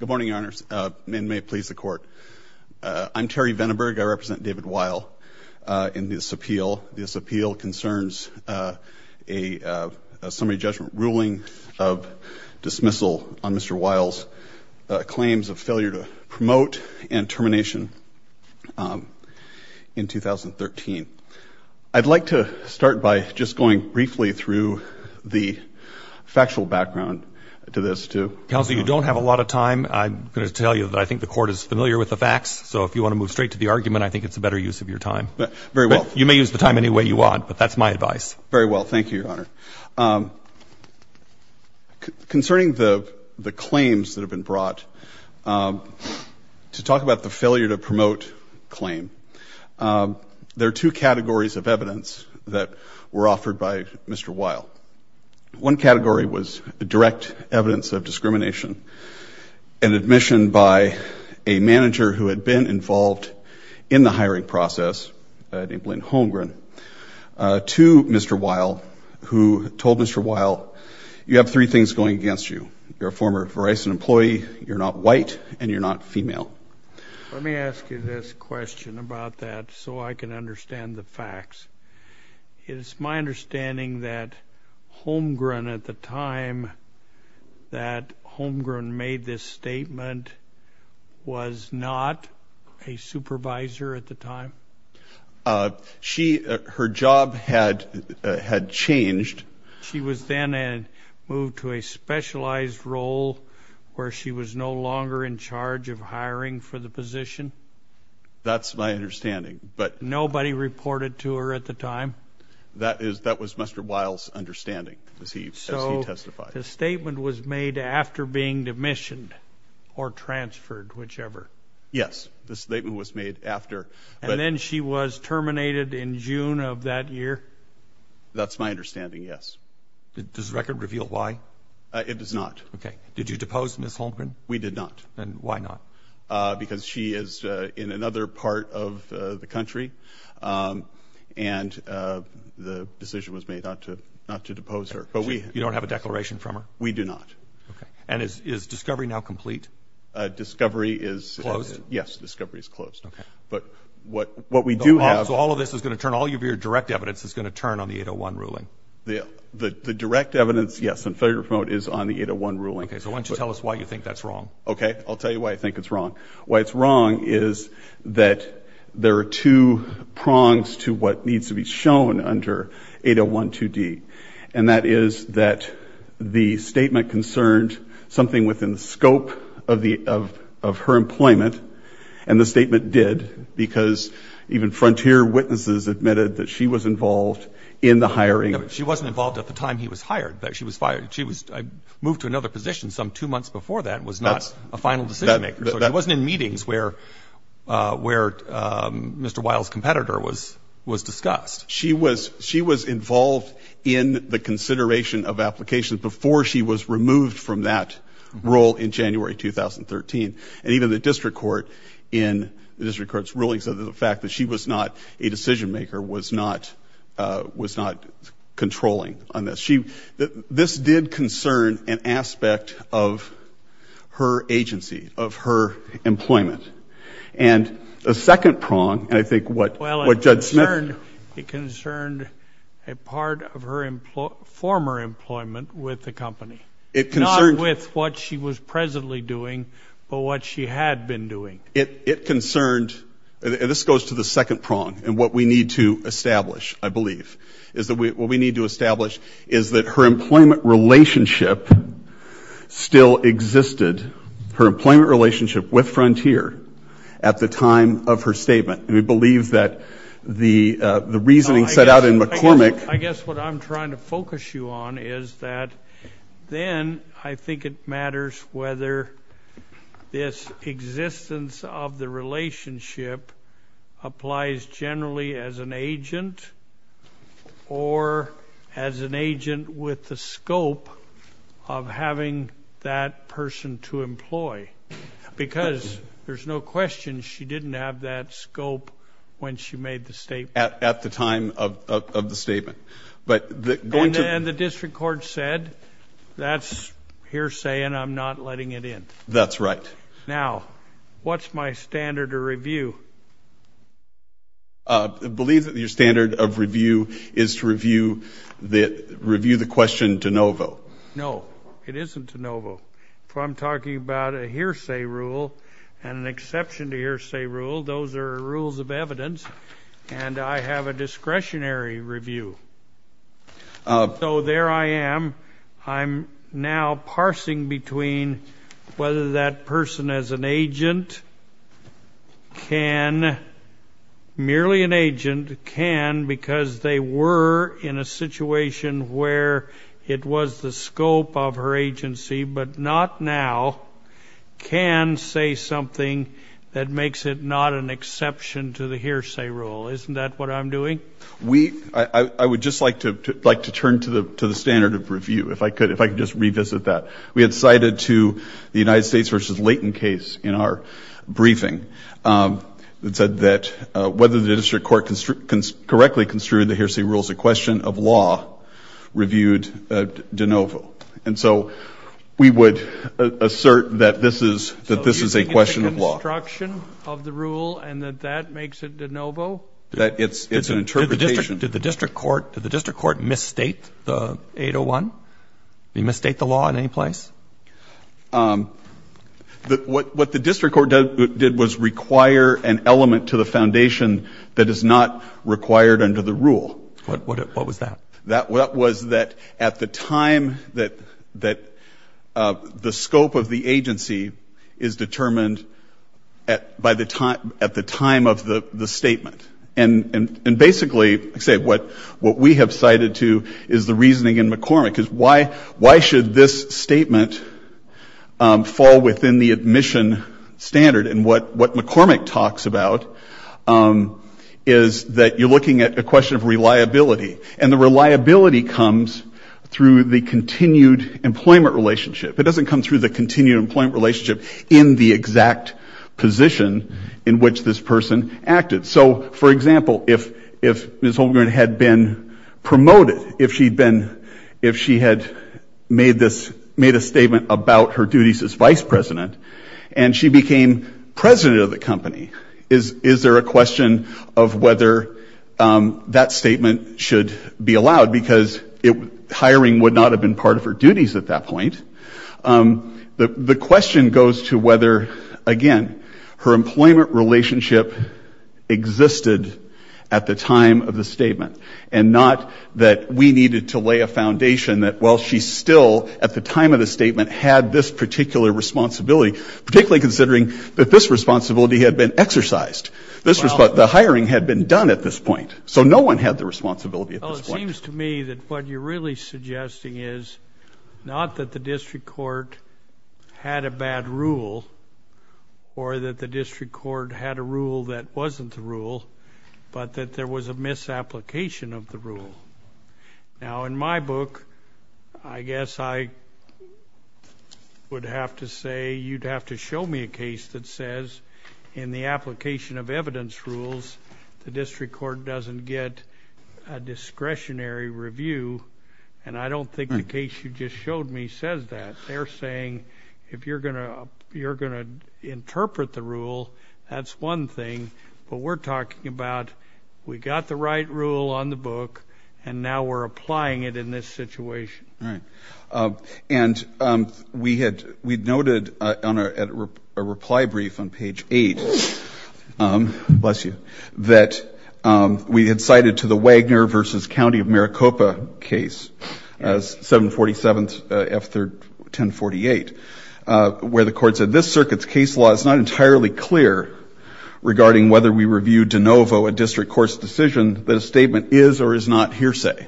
Good morning, Your Honors, and may it please the Court, I'm Terry Vandenberg. I represent David Weil in this appeal. This appeal concerns a summary judgment ruling of dismissal on Mr. Weil's claims of failure to promote and termination in 2013. I'd like to start by just going briefly through the factual background to this. Counsel, you don't have a lot of time. I'm going to tell you that I think the Court is familiar with the facts, so if you want to move straight to the argument, I think it's a better use of your time. Very well. You may use the time any way you want, but that's my advice. Very well. Thank you, Your Honor. Concerning the claims that have been brought, to talk about the failure to promote claim, there are two categories of evidence that were offered by Mr. Weil. One category was direct evidence of discrimination, an admission by a manager who had been involved in the hiring process, named Lynn Holmgren, to Mr. Weil, who told Mr. Weil, you have three things going against you. You're a former Verizon employee, you're not white, and you're not female. Let me ask you this question about that so I can understand the facts. It's my understanding that Holmgren, at the time that Holmgren made this statement, was not a supervisor at the time? She, her job had changed. She was then moved to a specialized role where she was no longer in charge of hiring for the position? That's my understanding, but nobody reported to her at the time? That is, that was Mr. Weil's understanding, as he testified. So the statement was made after being demissioned, or transferred, whichever? Yes, the statement was made after. And then she was terminated in June of that year? That's my understanding, yes. Does the record reveal why? It does not. Did you depose Ms. Holmgren? We did not. And why not? Because she is in another part of the country, and the decision was made not to depose her. You don't have a declaration from her? We do not. And is discovery now complete? Discovery is closed. Yes, discovery is closed. But what we do have So all of this is going to turn, all of your direct evidence is going to turn on the 801 ruling? The direct evidence, yes, on failure to promote, is on the 801 ruling. Okay, so why don't you tell us why you think that's wrong? Okay, I'll tell you why I think it's wrong. Why it's wrong is that there are two prongs to what needs to be shown under 801 2D, and that is that the statement concerned something within the scope of her employment, and the statement did, because even frontier witnesses admitted that she was involved in the hiring. No, but she wasn't involved at the time he was hired, that she was fired. She was moved to another position some two months before that and was not a final decision maker. So she wasn't in meetings where Mr. Weil's competitor was discussed. She was involved in the consideration of applications before she was removed from that role in January 2013, and even the district court in the district court's ruling said that the fact that she was not a decision maker was not, was not controlling on this. She, this did concern an aspect of her agency, of her employment, and the second prong, and I think what Judge Smith Well, it concerned, it concerned a part of her former employment with the company. Not with what she was presently doing, but what she had been doing. It concerned, and this goes to the second prong, and what we need to establish, I believe, is that we, what we need to establish is that her employment relationship still existed, her employment relationship with Frontier at the time of her statement, and we believe that the reasoning set out in McCormick I guess what I'm trying to focus you on is that then I think it matters whether this existence of the relationship applies generally as an agent, or as an agent with the scope of having that person to employ, because there's no question she didn't have that scope when she made the statement. At the time of the statement, but going to And the district court said, that's hearsay and I'm not letting it in. That's right. Now, what's my standard of review? I believe that your standard of review is to review the question de novo. No, it isn't de novo. I'm talking about a hearsay rule and an exception to hearsay rule. Those are rules of evidence, and I have a discretionary review. So there I am. I'm now merely an agent can, because they were in a situation where it was the scope of her agency, but not now, can say something that makes it not an exception to the hearsay rule. Isn't that what I'm doing? I would just like to turn to the standard of review, if I could just revisit that. We had cited to the United States versus that whether the district court can correctly construed the hearsay rules, a question of law reviewed de novo. And so we would assert that this is a question of law. So you think it's a construction of the rule and that that makes it de novo? That it's an interpretation. Did the district court misstate the 801? Did he misstate the law in any place? What the district court did was require an interpretation of the foundation that is not required under the rule. What was that? That was that at the time that the scope of the agency is determined at the time of the statement. And basically, what we have cited to is the reasoning in McCormick, is why should this statement fall within the admission standard? And what McCormick talks about is that you're looking at a question of reliability. And the reliability comes through the continued employment relationship. It doesn't come through the continued employment relationship in the exact position in which this person acted. So for example, if Ms. Holmgren had been promoted, if she had made a statement about her duties as vice president, and she became president of the company, is there a question of whether that statement should be allowed? Because hiring would not have been part of her duties at that point. The question goes to whether, again, her employment relationship existed at the time of the statement, and not that we needed to lay a foundation that while she still at the time of the statement had this particular responsibility, particularly considering that this responsibility had been exercised. The hiring had been done at this point. So no one had the responsibility at this point. It seems to me that what you're really suggesting is not that the district court had a bad rule, or that the district court had a rule that wasn't the rule, but that there was a misapplication of the rule. Now in my book, I guess I would have to say you'd have to show me a case that says that. They're saying, if you're going to interpret the rule, that's one thing, but we're talking about, we got the right rule on the book, and now we're applying it in this situation. And we had noted on a reply brief on page 8, bless you, that we had cited to the Wagner versus County of Maricopa case, 747 F1048, where the court said, this circuit's case law is not entirely clear regarding whether we reviewed de novo a district court's decision that a statement is or is not hearsay.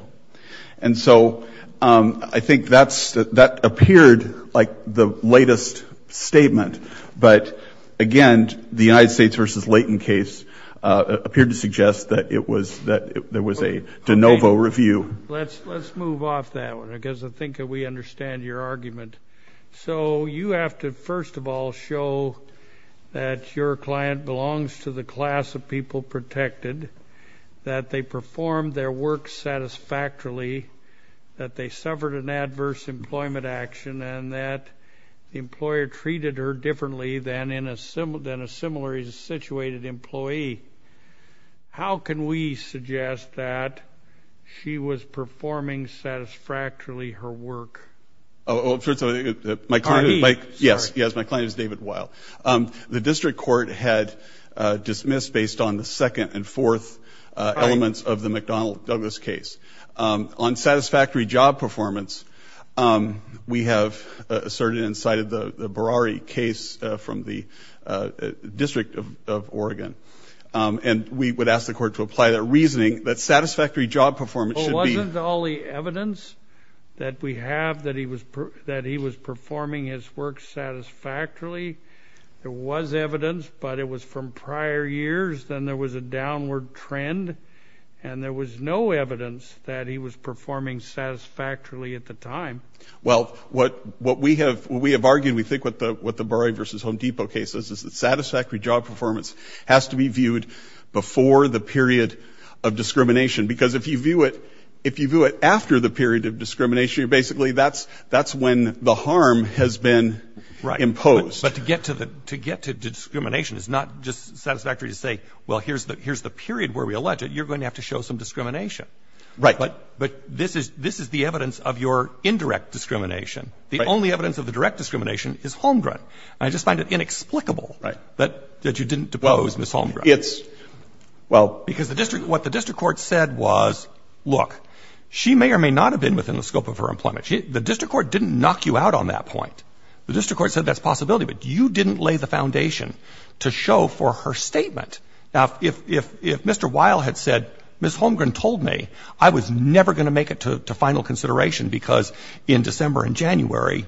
And so I think that appeared like the latest statement, but again, the United States versus Layton case appeared to suggest that there was a de novo review. Let's move off that one, because I think we understand your argument. So you have to first of all show that your client belongs to the class of people protected, that they performed their work satisfactorily, that they suffered an adverse employment action, and that the employee was treated differently than a similarly situated employee. How can we suggest that she was performing satisfactorily her work? Yes, my client is David Weil. The district court had dismissed, based on the second and fourth elements of the McDonnell Douglas case, on satisfactory job performance. We have asserted and cited the Berrari case from the District of Oregon. And we would ask the court to apply that reasoning that satisfactory job performance should be... Well, wasn't all the evidence that we have that he was performing his work satisfactorily? There was evidence, but it was from prior years, then there was a downward trend, and there was no evidence that he was performing satisfactorily at the time. Well, what we have argued, we think, with the Berrari v. Home Depot case, is that satisfactory job performance has to be viewed before the period of discrimination. Because if you view it after the period of discrimination, basically that's when the harm has been imposed. But to get to discrimination is not just satisfactory to say, well, here's the period where we allege it. You're going to have to show some discrimination. Right. But this is the evidence of your indirect discrimination. The only evidence of the direct discrimination is Holmgren. And I just find it inexplicable that you didn't depose Ms. Holmgren. Well, it's... Because what the district court said was, look, she may or may not have been within the scope of her employment. The district court didn't knock you out on that point. The district court said that's a possibility, but you didn't lay the foundation to show for her statement. Now, if Mr. Weil had said, Ms. Holmgren told me, I was never going to make it to final consideration because in December and January,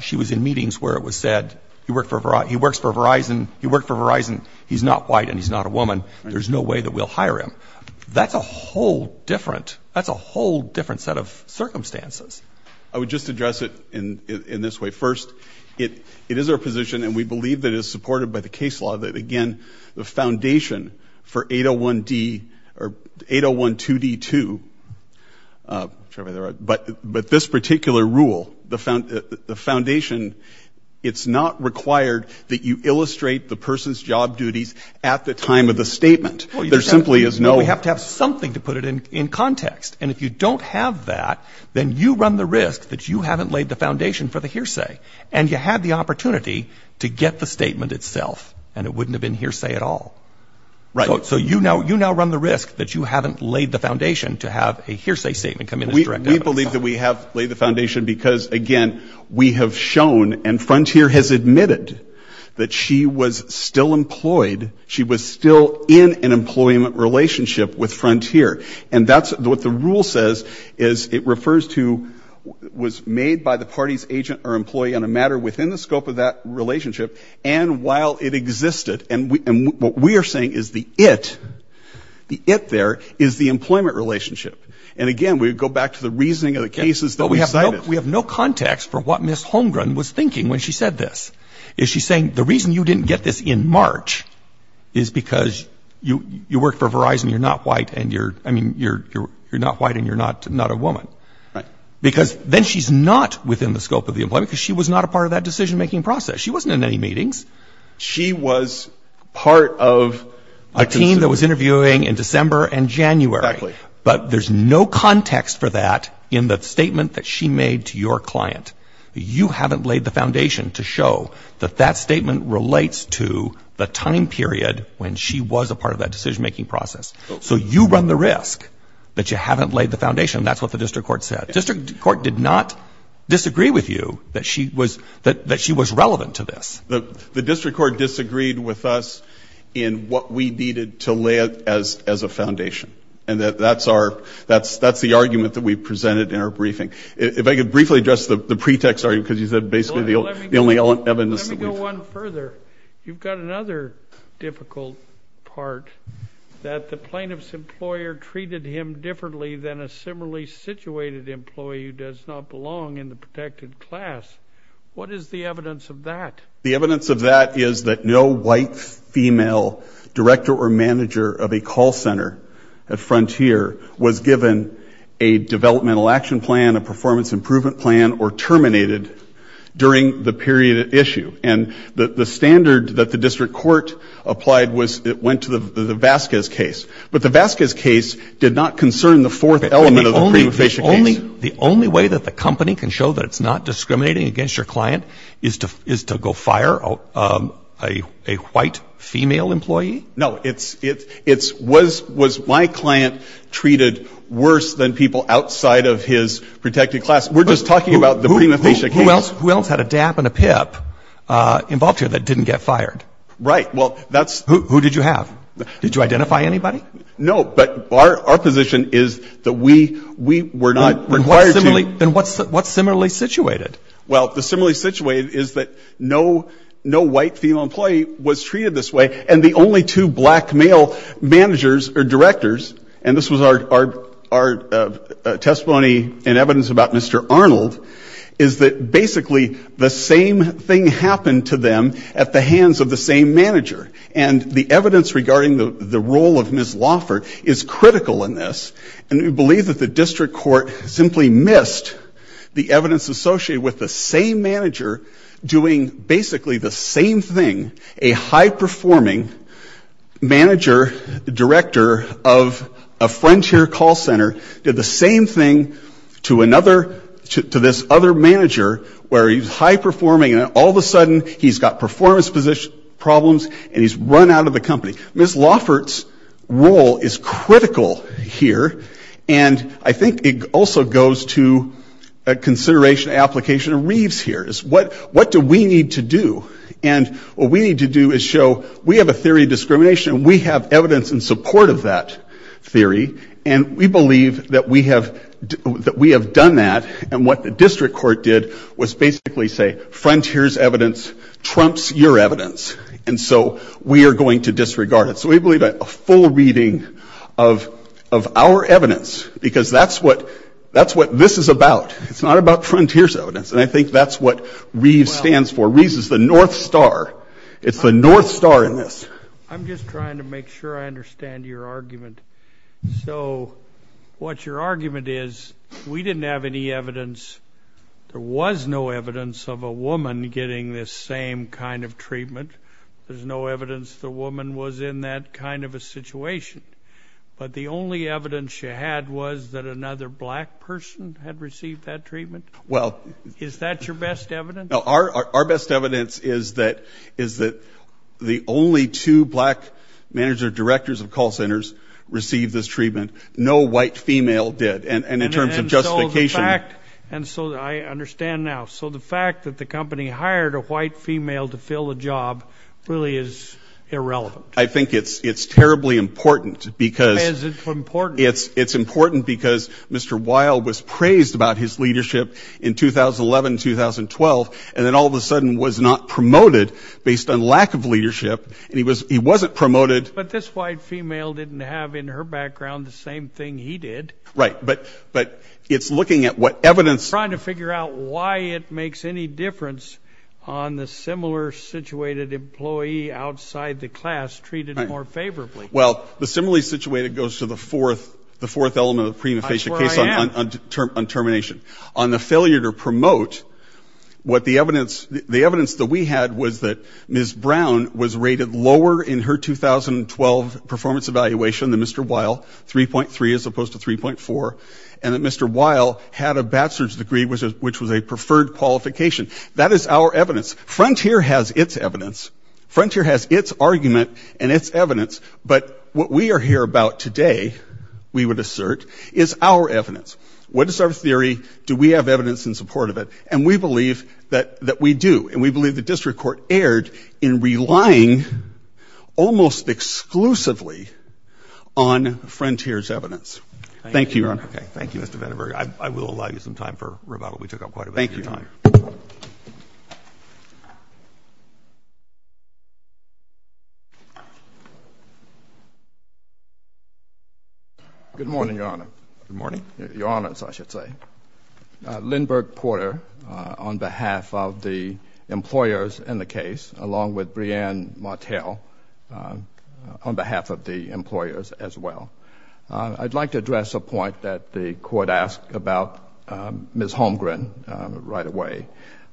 she was in meetings where it was said, he works for Verizon, he's not white and he's not a woman. There's no way that we'll hire him. That's a whole different set of circumstances. I would just address it in this way. First, it is our position, and we believe that it is, again, the foundation for 801D or 801 2D2, but this particular rule, the foundation, it's not required that you illustrate the person's job duties at the time of the statement. There simply is no... Well, we have to have something to put it in context. And if you don't have that, then you run the risk that you haven't laid the foundation for the hearsay. And you had the hearsay at all. So you now run the risk that you haven't laid the foundation to have a hearsay statement come in as direct evidence. We believe that we have laid the foundation because, again, we have shown, and Frontier has admitted, that she was still employed, she was still in an employment relationship with Frontier. And that's what the rule says, is it refers to, was made by the party's agent or employee on a matter within the scope of that relationship and while it existed. And what we are saying is the it, the it there, is the employment relationship. And, again, we go back to the reasoning of the cases that we cited. We have no context for what Ms. Holmgren was thinking when she said this. Is she saying the reason you didn't get this in March is because you work for Verizon, you're not white and you're, I mean, you're not white and you're not a woman. Right. Because then she's not within the scope of the employment because she was not a part of that decision-making process. She wasn't in any meetings. She was part of a team that was interviewing in December and January. Exactly. But there's no context for that in the statement that she made to your client. You haven't laid the foundation to show that that statement relates to the time period when she was a part of that decision-making process. So you run the risk that you haven't laid the foundation. That's what the district court said. District court did not disagree with you that she was, that she was relevant to this. The district court disagreed with us in what we needed to lay as a foundation. And that's our, that's the argument that we presented in our briefing. If I could briefly address the pretext argument because you said basically the only evidence that we found. Let me go one further. You've got another difficult part that the plaintiff's employer treated him differently than a similarly situated employee who does not belong in the protected class. What is the evidence of that? The evidence of that is that no white female director or manager of a call center at Frontier was given a developmental action plan, a performance improvement plan, or terminated during the period at issue. And the standard that the district court applied was, it went to the case did not concern the fourth element of the prima facie case. The only way that the company can show that it's not discriminating against your client is to go fire a white female employee? No. It's, it's, it's, was, was my client treated worse than people outside of his protected class? We're just talking about the prima facie case. Who else had a DAP and a PIP involved here that didn't get fired? Right. Well, that's Who did you have? Did you identify anybody? No, but our, our position is that we, we were not required to Then what's, what's similarly situated? Well, the similarly situated is that no, no white female employee was treated this way. And the only two black male managers or directors, and this was our, our, our testimony and evidence about Mr. Arnold, is that basically the same thing happened to them at the hands of the same manager. And the evidence regarding the, the role of Ms. Lauffert is critical in this. And we believe that the district court simply missed the evidence associated with the same manager doing basically the same thing. A high-performing manager, director of a Frontier call center did the same thing to another, to this other manager where he's high-performing and all of a sudden he's got performance problems and he's run out of the company. Ms. Lauffert's role is critical here. And I think it also goes to a consideration application of Reeves here is what, what do we need to do? And what we need to do is show we have a theory of discrimination and we have evidence in support of that theory. And we believe that we have, that we have done that. And what the district court did was basically say, Frontier's evidence trumps your evidence. And so we are going to disregard it. So we believe a full reading of, of our evidence because that's what, that's what this is about. It's not about Frontier's evidence. And I think that's what Reeves stands for. Reeves is the North Star. It's the North Star in this. I'm just trying to make sure I understand your argument. So what your argument is, we didn't have any evidence, there was no evidence of a woman getting this same kind of treatment. There's no evidence the woman was in that kind of a situation. But the only evidence you had was that another black person had received that treatment. Well. Is that your best evidence? Our, our best evidence is that, is that the only two black manager directors of call centers received this treatment. No white female did. And in terms of justification. And so the fact, and so I understand now. So the fact that the company hired a white female to fill the job really is irrelevant. I think it's, it's terribly important because. Why is it important? It's important because Mr. Weil was praised about his leadership in 2011, 2012, and then all of a sudden was not promoted based on lack of leadership. And he was, he wasn't promoted. But this white female didn't have in her background the same thing he did. Right. But, but it's looking at what evidence. Trying to figure out why it makes any difference on the similar situated employee outside the class treated more favorably. Well, the similarly situated goes to the fourth, the fourth element of the prima facie case on term, on termination. On the failure to The evidence that we had was that Ms. Brown was rated lower in her 2012 performance evaluation than Mr. Weil. 3.3 as opposed to 3.4. And that Mr. Weil had a bachelor's degree which was a preferred qualification. That is our evidence. Frontier has its evidence. Frontier has its argument and its evidence. But what we are here about today, we would assert, is our evidence. What is our theory? Do we have evidence in support of it? And we believe that, that we do. And we believe the district court erred in relying almost exclusively on Frontier's evidence. Thank you, Your Honor. Okay. Thank you, Mr. Vandenberg. I, I will allow you some time for rebuttal. We took up quite a bit of your time. Thank you, Your Honor. Good morning, Your Honor. Good morning. Your Honor, I would like to address a point that the court asked about Ms. Holmgren right away.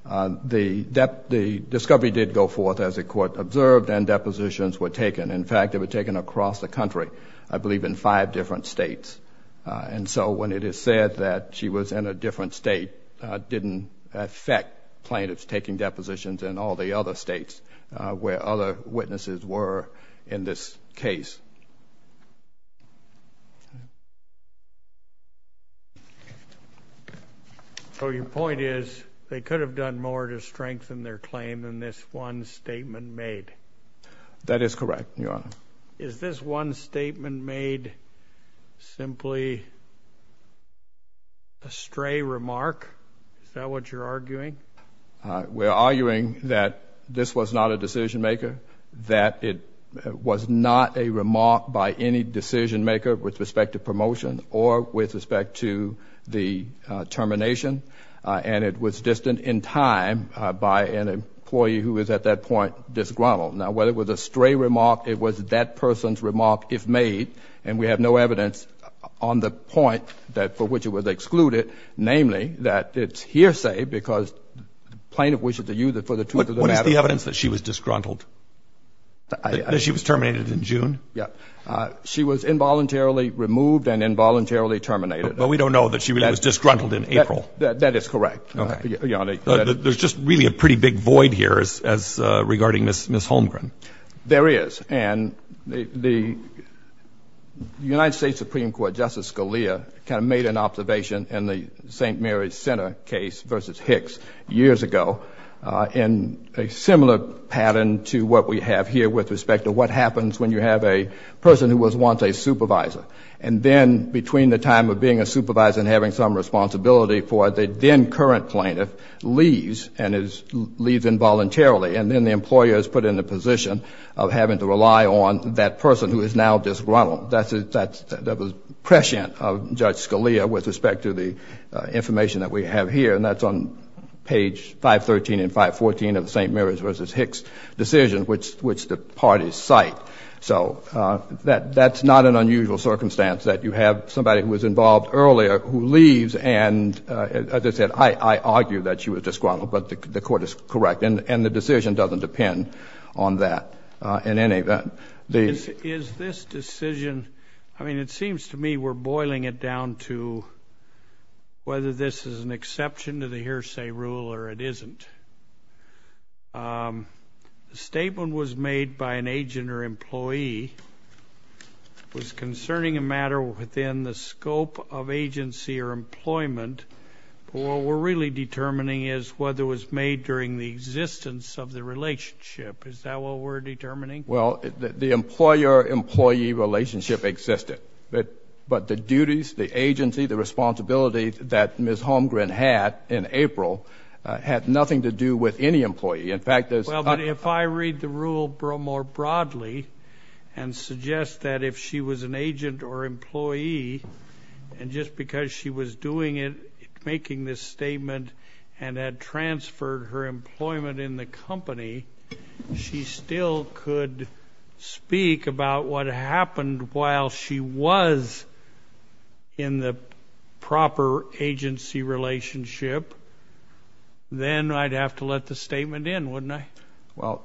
The discovery did go forth, as the court observed, and depositions were taken. In fact, they were taken across the country. I believe in five different states. And so when it is said that she was in a different state, it didn't affect plaintiffs taking depositions in all the other states where other witnesses were in this case. So your point is, they could have done more to strengthen their claim than this one statement made. That is correct, Your Honor. Is this one statement made simply a stray remark? Is that what you're arguing? We're arguing that this was not a decision maker. That it was not a remark by any decision maker with respect to promotion or with respect to the termination. And it was distant in that it was that person's remark, if made, and we have no evidence on the point for which it was excluded, namely that it's hearsay because plaintiff wishes to use it for the truth of the matter. What is the evidence that she was disgruntled? That she was terminated in June? Yes. She was involuntarily removed and involuntarily terminated. But we don't know that she was disgruntled in April. That is correct, Your Honor. There's just really a pretty big void here regarding Ms. Holmgren. There is. And the United States Supreme Court, Justice Scalia, kind of made an observation in the St. Mary's Center case versus Hicks years ago in a similar pattern to what we have here with respect to what happens when you have a person who was once a supervisor. And then between the time of being a supervisor and having some responsibility for it, the then current plaintiff leaves and leaves involuntarily. And then the employer is put in the position of having to rely on that person who is now disgruntled. That was prescient of Judge Scalia with respect to the information that we have here. And that's on page 513 and 514 of the St. Mary's versus Hicks decision, which the parties cite. So that's not an unusual circumstance that you have somebody who was involved earlier who leaves and, as I said, I argue that she was disgruntled, but the Court is correct. And the decision doesn't depend on that in any event. Is this decision, I mean, it seems to me we're boiling it down to whether this is an exception to the hearsay rule or it isn't. The statement was made by an agent or employee concerning a matter within the scope of agency or employment. But what we're really determining is whether it was made during the existence of the relationship. Is that what we're determining? Well, the employer-employee relationship existed. But the duties, the agency, the responsibility that Ms. Holmgren had in April had nothing to do with any employee. In fact, there's Well, but if I read the rule more broadly and suggest that if she was an agent or employee and just because she was doing it, making this statement, and had transferred her employment in the company, she still could speak about what happened while she was in the proper agency relationship, then I'd have to let the statement in, wouldn't I? Well,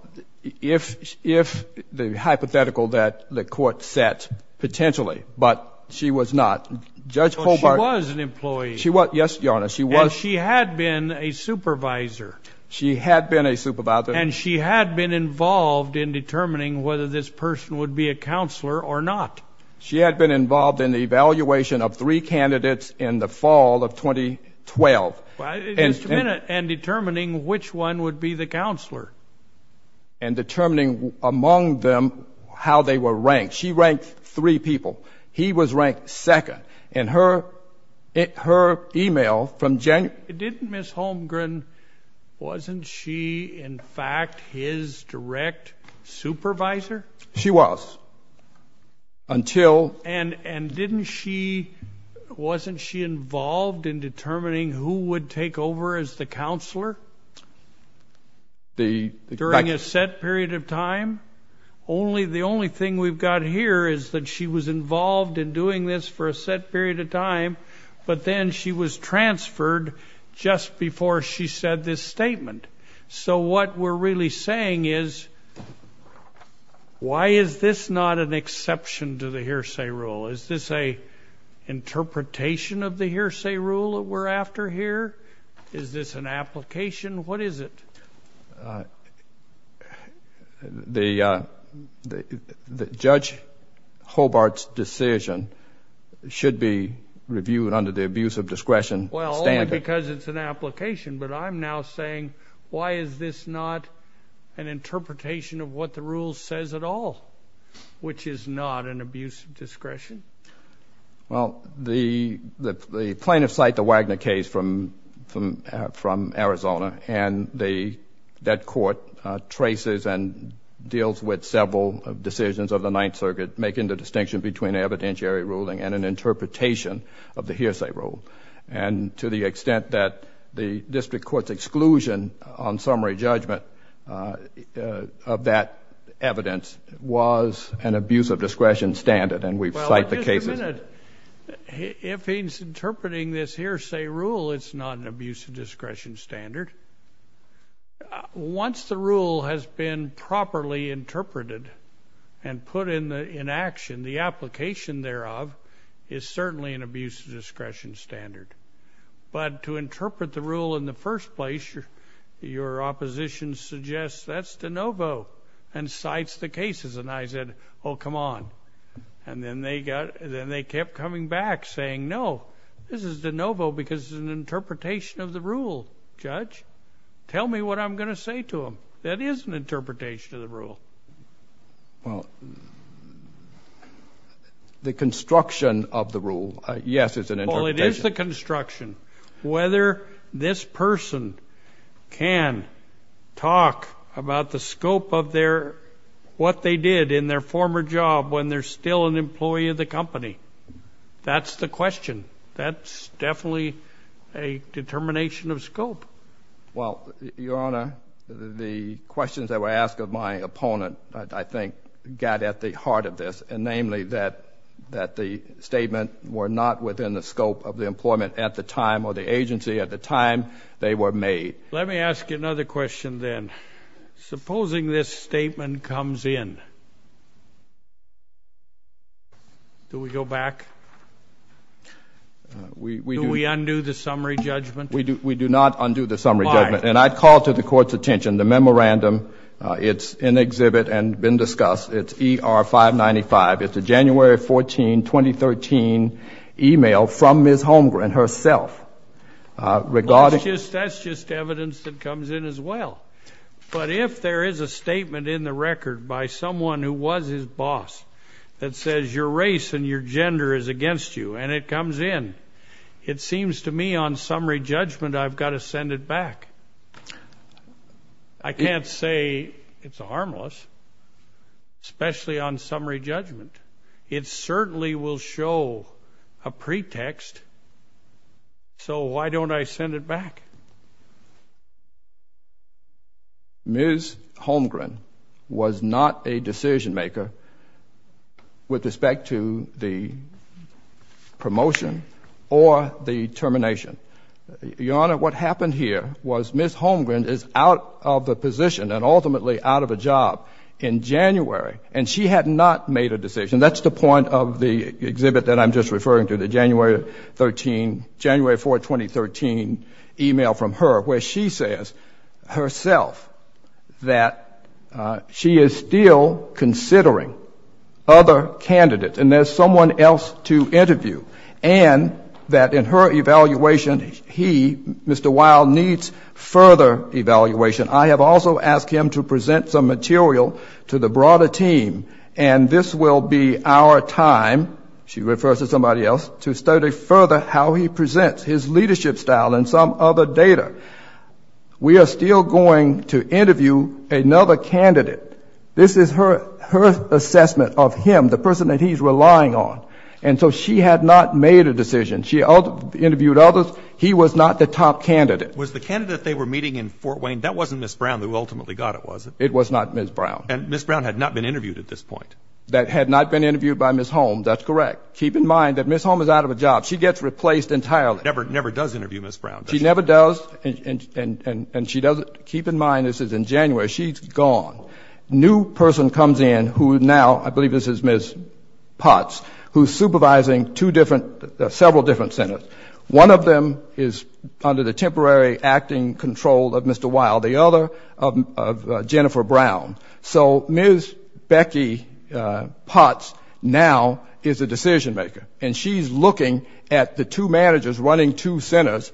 if the hypothetical that the Court set potentially, but she was not, Judge Hobart Well, she was an employee. She was, yes, Your Honor, she was And she had been a supervisor. She had been a supervisor. And she had been involved in determining whether this person would be a counselor or not. She had been involved in the evaluation of three candidates in the fall of 2012. And determining which one would be the counselor. And determining among them how they were ranked. She ranked three people. He was ranked second. And her email from January Didn't Ms. Holmgren, wasn't she, in fact, his direct supervisor? She was. Until And didn't she, wasn't she involved in determining who would take over as the counselor? During a set period of time? The only thing we've got here is that she was involved in doing this for a set period of time, but then she was transferred just before she said this statement. So what we're really saying is, why is this not an exception to the hearsay rule? Is this an interpretation of the hearsay rule that we're after here? Is this an application? What is it? The Judge Hobart's decision should be reviewed under the abuse of discretion standard. Because it's an application, but I'm now saying, why is this not an interpretation of what the rule says at all, which is not an abuse of discretion? Well, the plaintiffs cite the Wagner case from Arizona, and that court traces and deals with several decisions of the Ninth Circuit, making the distinction between evidentiary ruling and an interpretation of the hearsay rule. And to the extent that the district court's exclusion on summary judgment of that evidence was an abuse of discretion standard, and we've cited the case as Well, just a minute. If he's interpreting this hearsay rule, it's not an abuse of discretion standard. Once the rule has been properly interpreted and put in action, the application thereof is certainly an abuse of discretion standard. But to interpret the rule in the first place, your opposition suggests, that's de novo, and cites the cases. And I said, oh, come on. And then they kept coming back, saying, no, this is de novo because it's an interpretation of the rule, Judge. Tell me what I'm going to say to him. That is an interpretation of Well, the construction of the rule, yes, is an interpretation. Well, it is the construction. Whether this person can talk about the scope of what they did in their former job when they're still an employee of the company, that's the question. Well, your Honor, the questions that were asked of my opponent, I think, got at the heart of this, and namely that the statement were not within the scope of the employment at the time or the agency at the time they were made. Let me ask you another question then. Supposing this statement comes in, do we go back? Do we undo the summary judgment? We do not undo the summary judgment. And I'd call to the Court's attention the memorandum. It's in exhibit and been discussed. It's ER-595. It's a January 14, 2013, email from Ms. Holmgren herself regarding That's just evidence that comes in as well. But if there is a statement in the record by someone who was his boss that says your race and your gender is against you, and it comes in, it seems to me on summary judgment I've got to send it back. I can't say it's harmless, especially on summary judgment. It certainly will show a pretext, so why don't I send it back? Ms. Holmgren was not a decision-maker with respect to the promotion of her employment or the termination. Your Honor, what happened here was Ms. Holmgren is out of the position and ultimately out of a job in January, and she had not made a decision. That's the point of the exhibit that I'm just referring to, the January 14, 2013, email from her where she says herself that she is still considering other candidates, and there's someone else to interview, and that in her evaluation he, Mr. Weil, needs further evaluation. I have also asked him to present some material to the broader team, and this will be our time, she refers to somebody else, to study further how he presents his leadership style and some other data. We are still going to interview another candidate. This is her assessment of him, the person that he's relying on, and so she had not made a decision. She interviewed others. He was not the top candidate. Was the candidate they were meeting in Fort Wayne, that wasn't Ms. Brown who ultimately got it, was it? It was not Ms. Brown. And Ms. Brown had not been interviewed at this point. That had not been interviewed by Ms. Holm, that's correct. Keep in mind that Ms. Holm is out of a job. She gets replaced entirely. Never does interview Ms. Brown, does she? She never does, and she doesn't. Keep in mind this is in January. She's gone. New person comes in who now, I believe this is Ms. Potts, who's supervising several different centers. One of them is under the temporary acting control of Mr. Weil, the other of Jennifer Brown. So Ms. Becky Potts now is a decision maker, and she's looking at the two managers running two centers,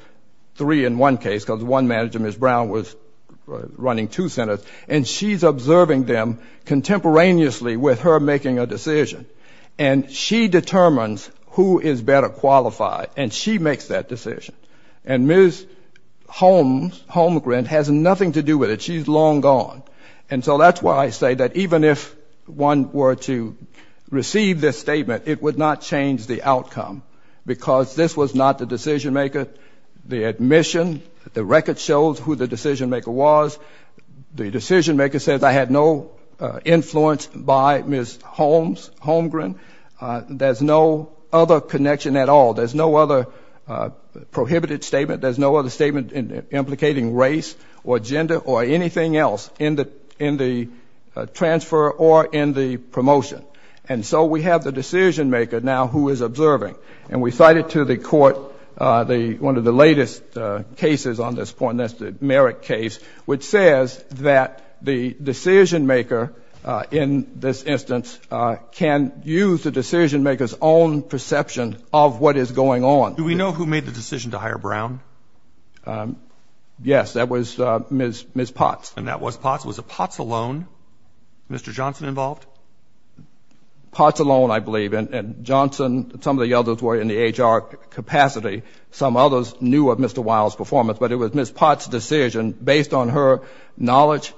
three in one case, because one manager, Ms. Brown, was running two centers, and she's observing them contemporaneously with her making a decision. And she determines who is better qualified, and she makes that decision. And Ms. Holmgren has nothing to do with it. She's long gone. And so that's why I say that even if one were to receive this statement, it would not change the outcome, because this was not the decision maker. The admission, the record shows who the decision maker was. The decision maker says, I had no influence by Ms. Holmgren. There's no other connection at all. There's no other prohibited statement. There's no other statement implicating race or gender or anything else in the transfer or in the promotion. And so we have the decision maker now who is observing. And we cite it to the court, one of the latest cases on this point, the Merrick case, which says that the decision maker in this instance can use the decision maker's own perception of what is going on. Do we know who made the decision to hire Brown? Yes. That was Ms. Potts. And that was Potts. Was it Potts alone, Mr. Johnson involved? Potts alone, I believe. And Johnson, some of the others were in the HR capacity. Some others knew of Mr. Wilde's performance. But it was Ms. Potts' decision, based on her knowledge,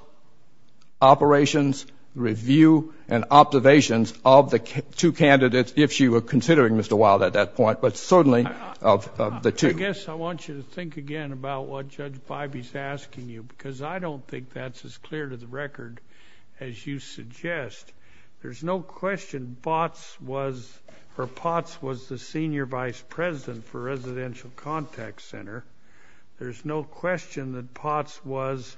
operations, review, and observations of the two candidates, if she were considering Mr. Wilde at that point, but certainly of the two. I guess I want you to think again about what Judge Bybee's asking you, because I don't think that's as clear to the record as you suggest. There's no question Potts was the senior vice president for residential contact center. There's no question that Potts was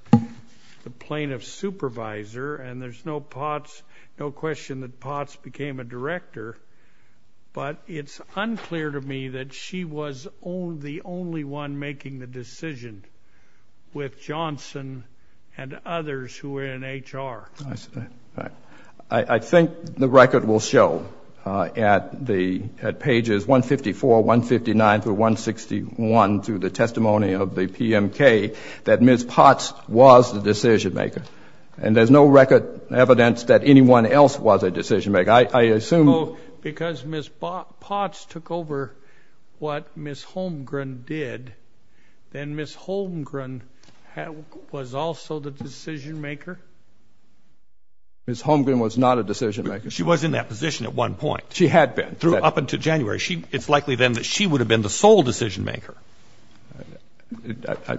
the plaintiff's supervisor. And there's no question that Potts became a director. But it's unclear to me that she was the only one making the decision, with Johnson, with Wilde, and others who were in HR. I think the record will show, at pages 154, 159, through 161, through the testimony of the PMK, that Ms. Potts was the decision maker. And there's no record evidence that anyone else was a decision maker. I assume... Because Ms. Potts took over what Ms. Holmgren did, then Ms. Holmgren was also the decision maker? Ms. Holmgren was not a decision maker. She was in that position at one point. She had been. Up until January. It's likely then that she would have been the sole decision maker.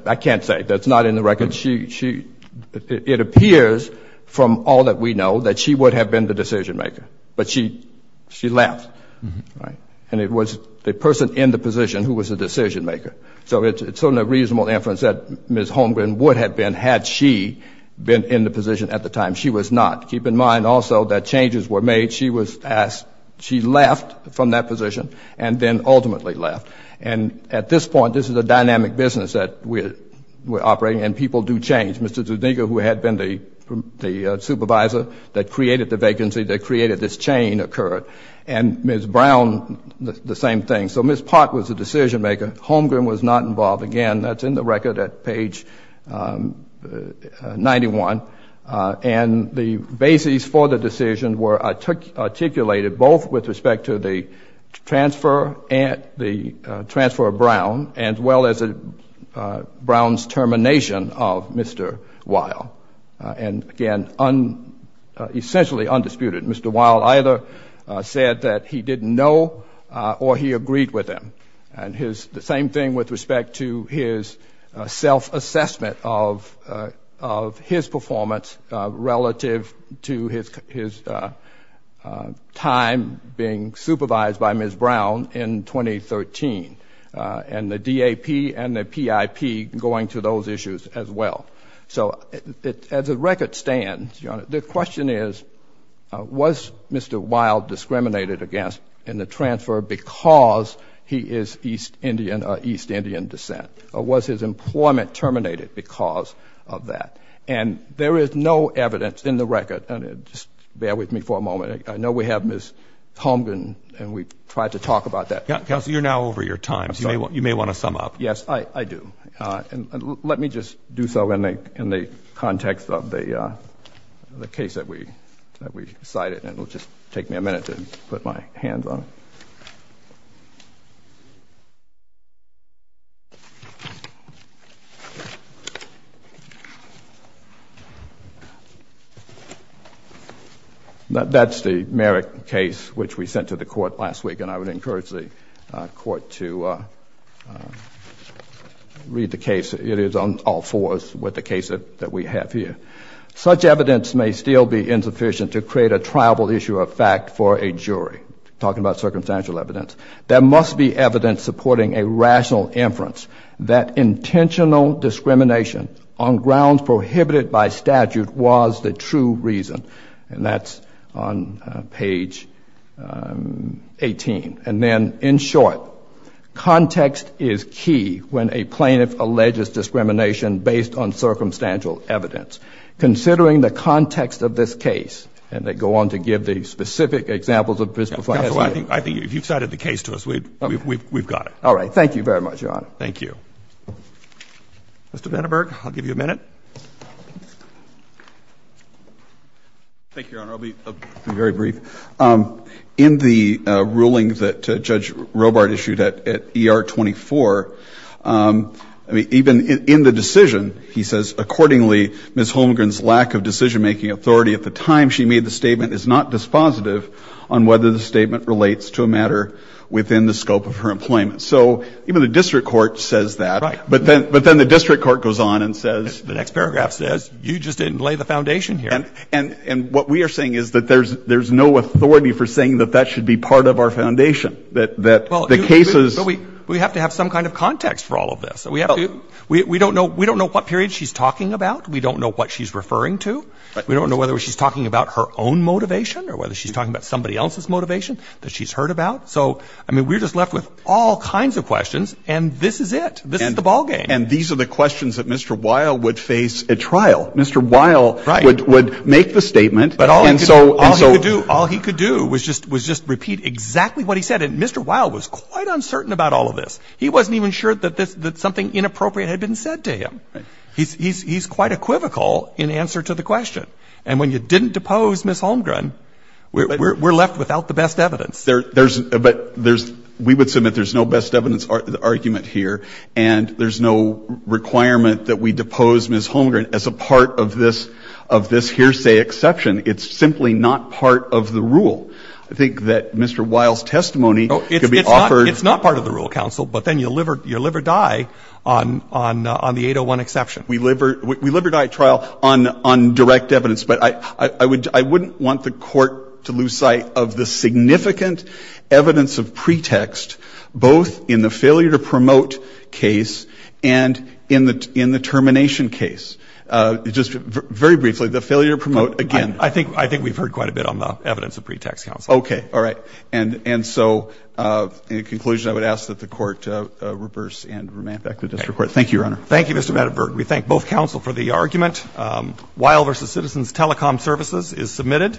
I can't say. That's not in the record. It appears, from all that we know, that she would have been the decision maker. But she left. And it was the person in the position who was the decision maker. So it's certainly a reasonable inference that Ms. Holmgren would have been, had she been in the position at the time. She was not. Keep in mind, also, that changes were made. She was asked. She left from that position, and then ultimately left. And at this point, this is a dynamic business that we're operating, and people do change. Mr. Zuniga, who had been the supervisor that created the vacancy, that created this chain, occurred. And Ms. Brown, the same thing. So Ms. Potts was the decision maker. Holmgren was not involved. Again, that's in the record at page 91. And the basis for the decision were articulated both with respect to the transfer of Brown, as well as Brown's termination of Mr. Weil. And again, essentially undisputed. Mr. Weil either said that he didn't know, or he agreed with him. And the same thing with respect to his self-assessment of his performance relative to his time being supervised by Ms. Brown in 2013, and the DAP and the PIP going to those issues as well. So as the record stands, Your Honor, the question is, was Mr. Weil discriminated against in his East Indian descent? Or was his employment terminated because of that? And there is no evidence in the record, and just bear with me for a moment. I know we have Ms. Holmgren, and we've tried to talk about that. Counsel, you're now over your time, so you may want to sum up. Yes, I do. And let me just do so in the context of the case that we cited, and it'll just take me a minute to put my hands on it. That's the Merrick case, which we sent to the Court last week, and I would encourage the Court to read the case. It is on all fours with the case that we have here. Such evidence may still be insufficient to create a triable issue of fact for a jury, talking about circumstantial evidence. There must be evidence supporting a rational inference that intentional discrimination on grounds prohibited by statute was the true reason. And that's on page 18. And then, in short, context is key when a plaintiff alleges discrimination based on the context of the case. Counsel, I think if you cited the case to us, we've got it. All right. Thank you very much, Your Honor. Thank you. Mr. Vandenberg, I'll give you a minute. Thank you, Your Honor. I'll be very brief. In the ruling that Judge Robart issued at ER 24, even in the decision, he says, accordingly, Ms. Holmgren's lack of decision-making authority at the time she made the statement is not dispositive on whether the statement relates to a matter within the scope of her employment. So even the district court says that, but then the district court goes on and says The next paragraph says, you just didn't lay the foundation here. And what we are saying is that there's no authority for saying that that should be part of our foundation, that the case is But we have to have some kind of context for all of this. We don't know what period she's talking about. We don't know what she's referring to. We don't know whether she's talking about her own motivation or whether she's talking about somebody else's motivation that she's heard about. So I mean, we're just left with all kinds of questions. And this is it. This is the ballgame. And these are the questions that Mr. Weil would face at trial. Mr. Weil would make the statement, and so But all he could do was just repeat exactly what he said. And Mr. Weil was quite uncertain about all of this. He wasn't even sure that something inappropriate had been said to him. He's quite equivocal in answer to the question. And when you didn't depose Ms. Holmgren, we're left without the best evidence. But there's — we would submit there's no best evidence argument here, and there's no requirement that we depose Ms. Holmgren as a part of this hearsay exception. It's simply not part of the rule. I think that Mr. Weil's testimony could be offered It's not part of the rule, counsel, but then you live or die on the 801 exception We live or die at trial on direct evidence. But I wouldn't want the court to lose sight of the significant evidence of pretext, both in the failure to promote case and in the termination case. Just very briefly, the failure to promote, again I think we've heard quite a bit on the evidence of pretext, counsel. Okay. All right. And so, in conclusion, I would ask that the court reverse and remand Thank you, Mr. Medverd. We thank both counsel for the argument. Weil v. Citizens Telecom Services is submitted.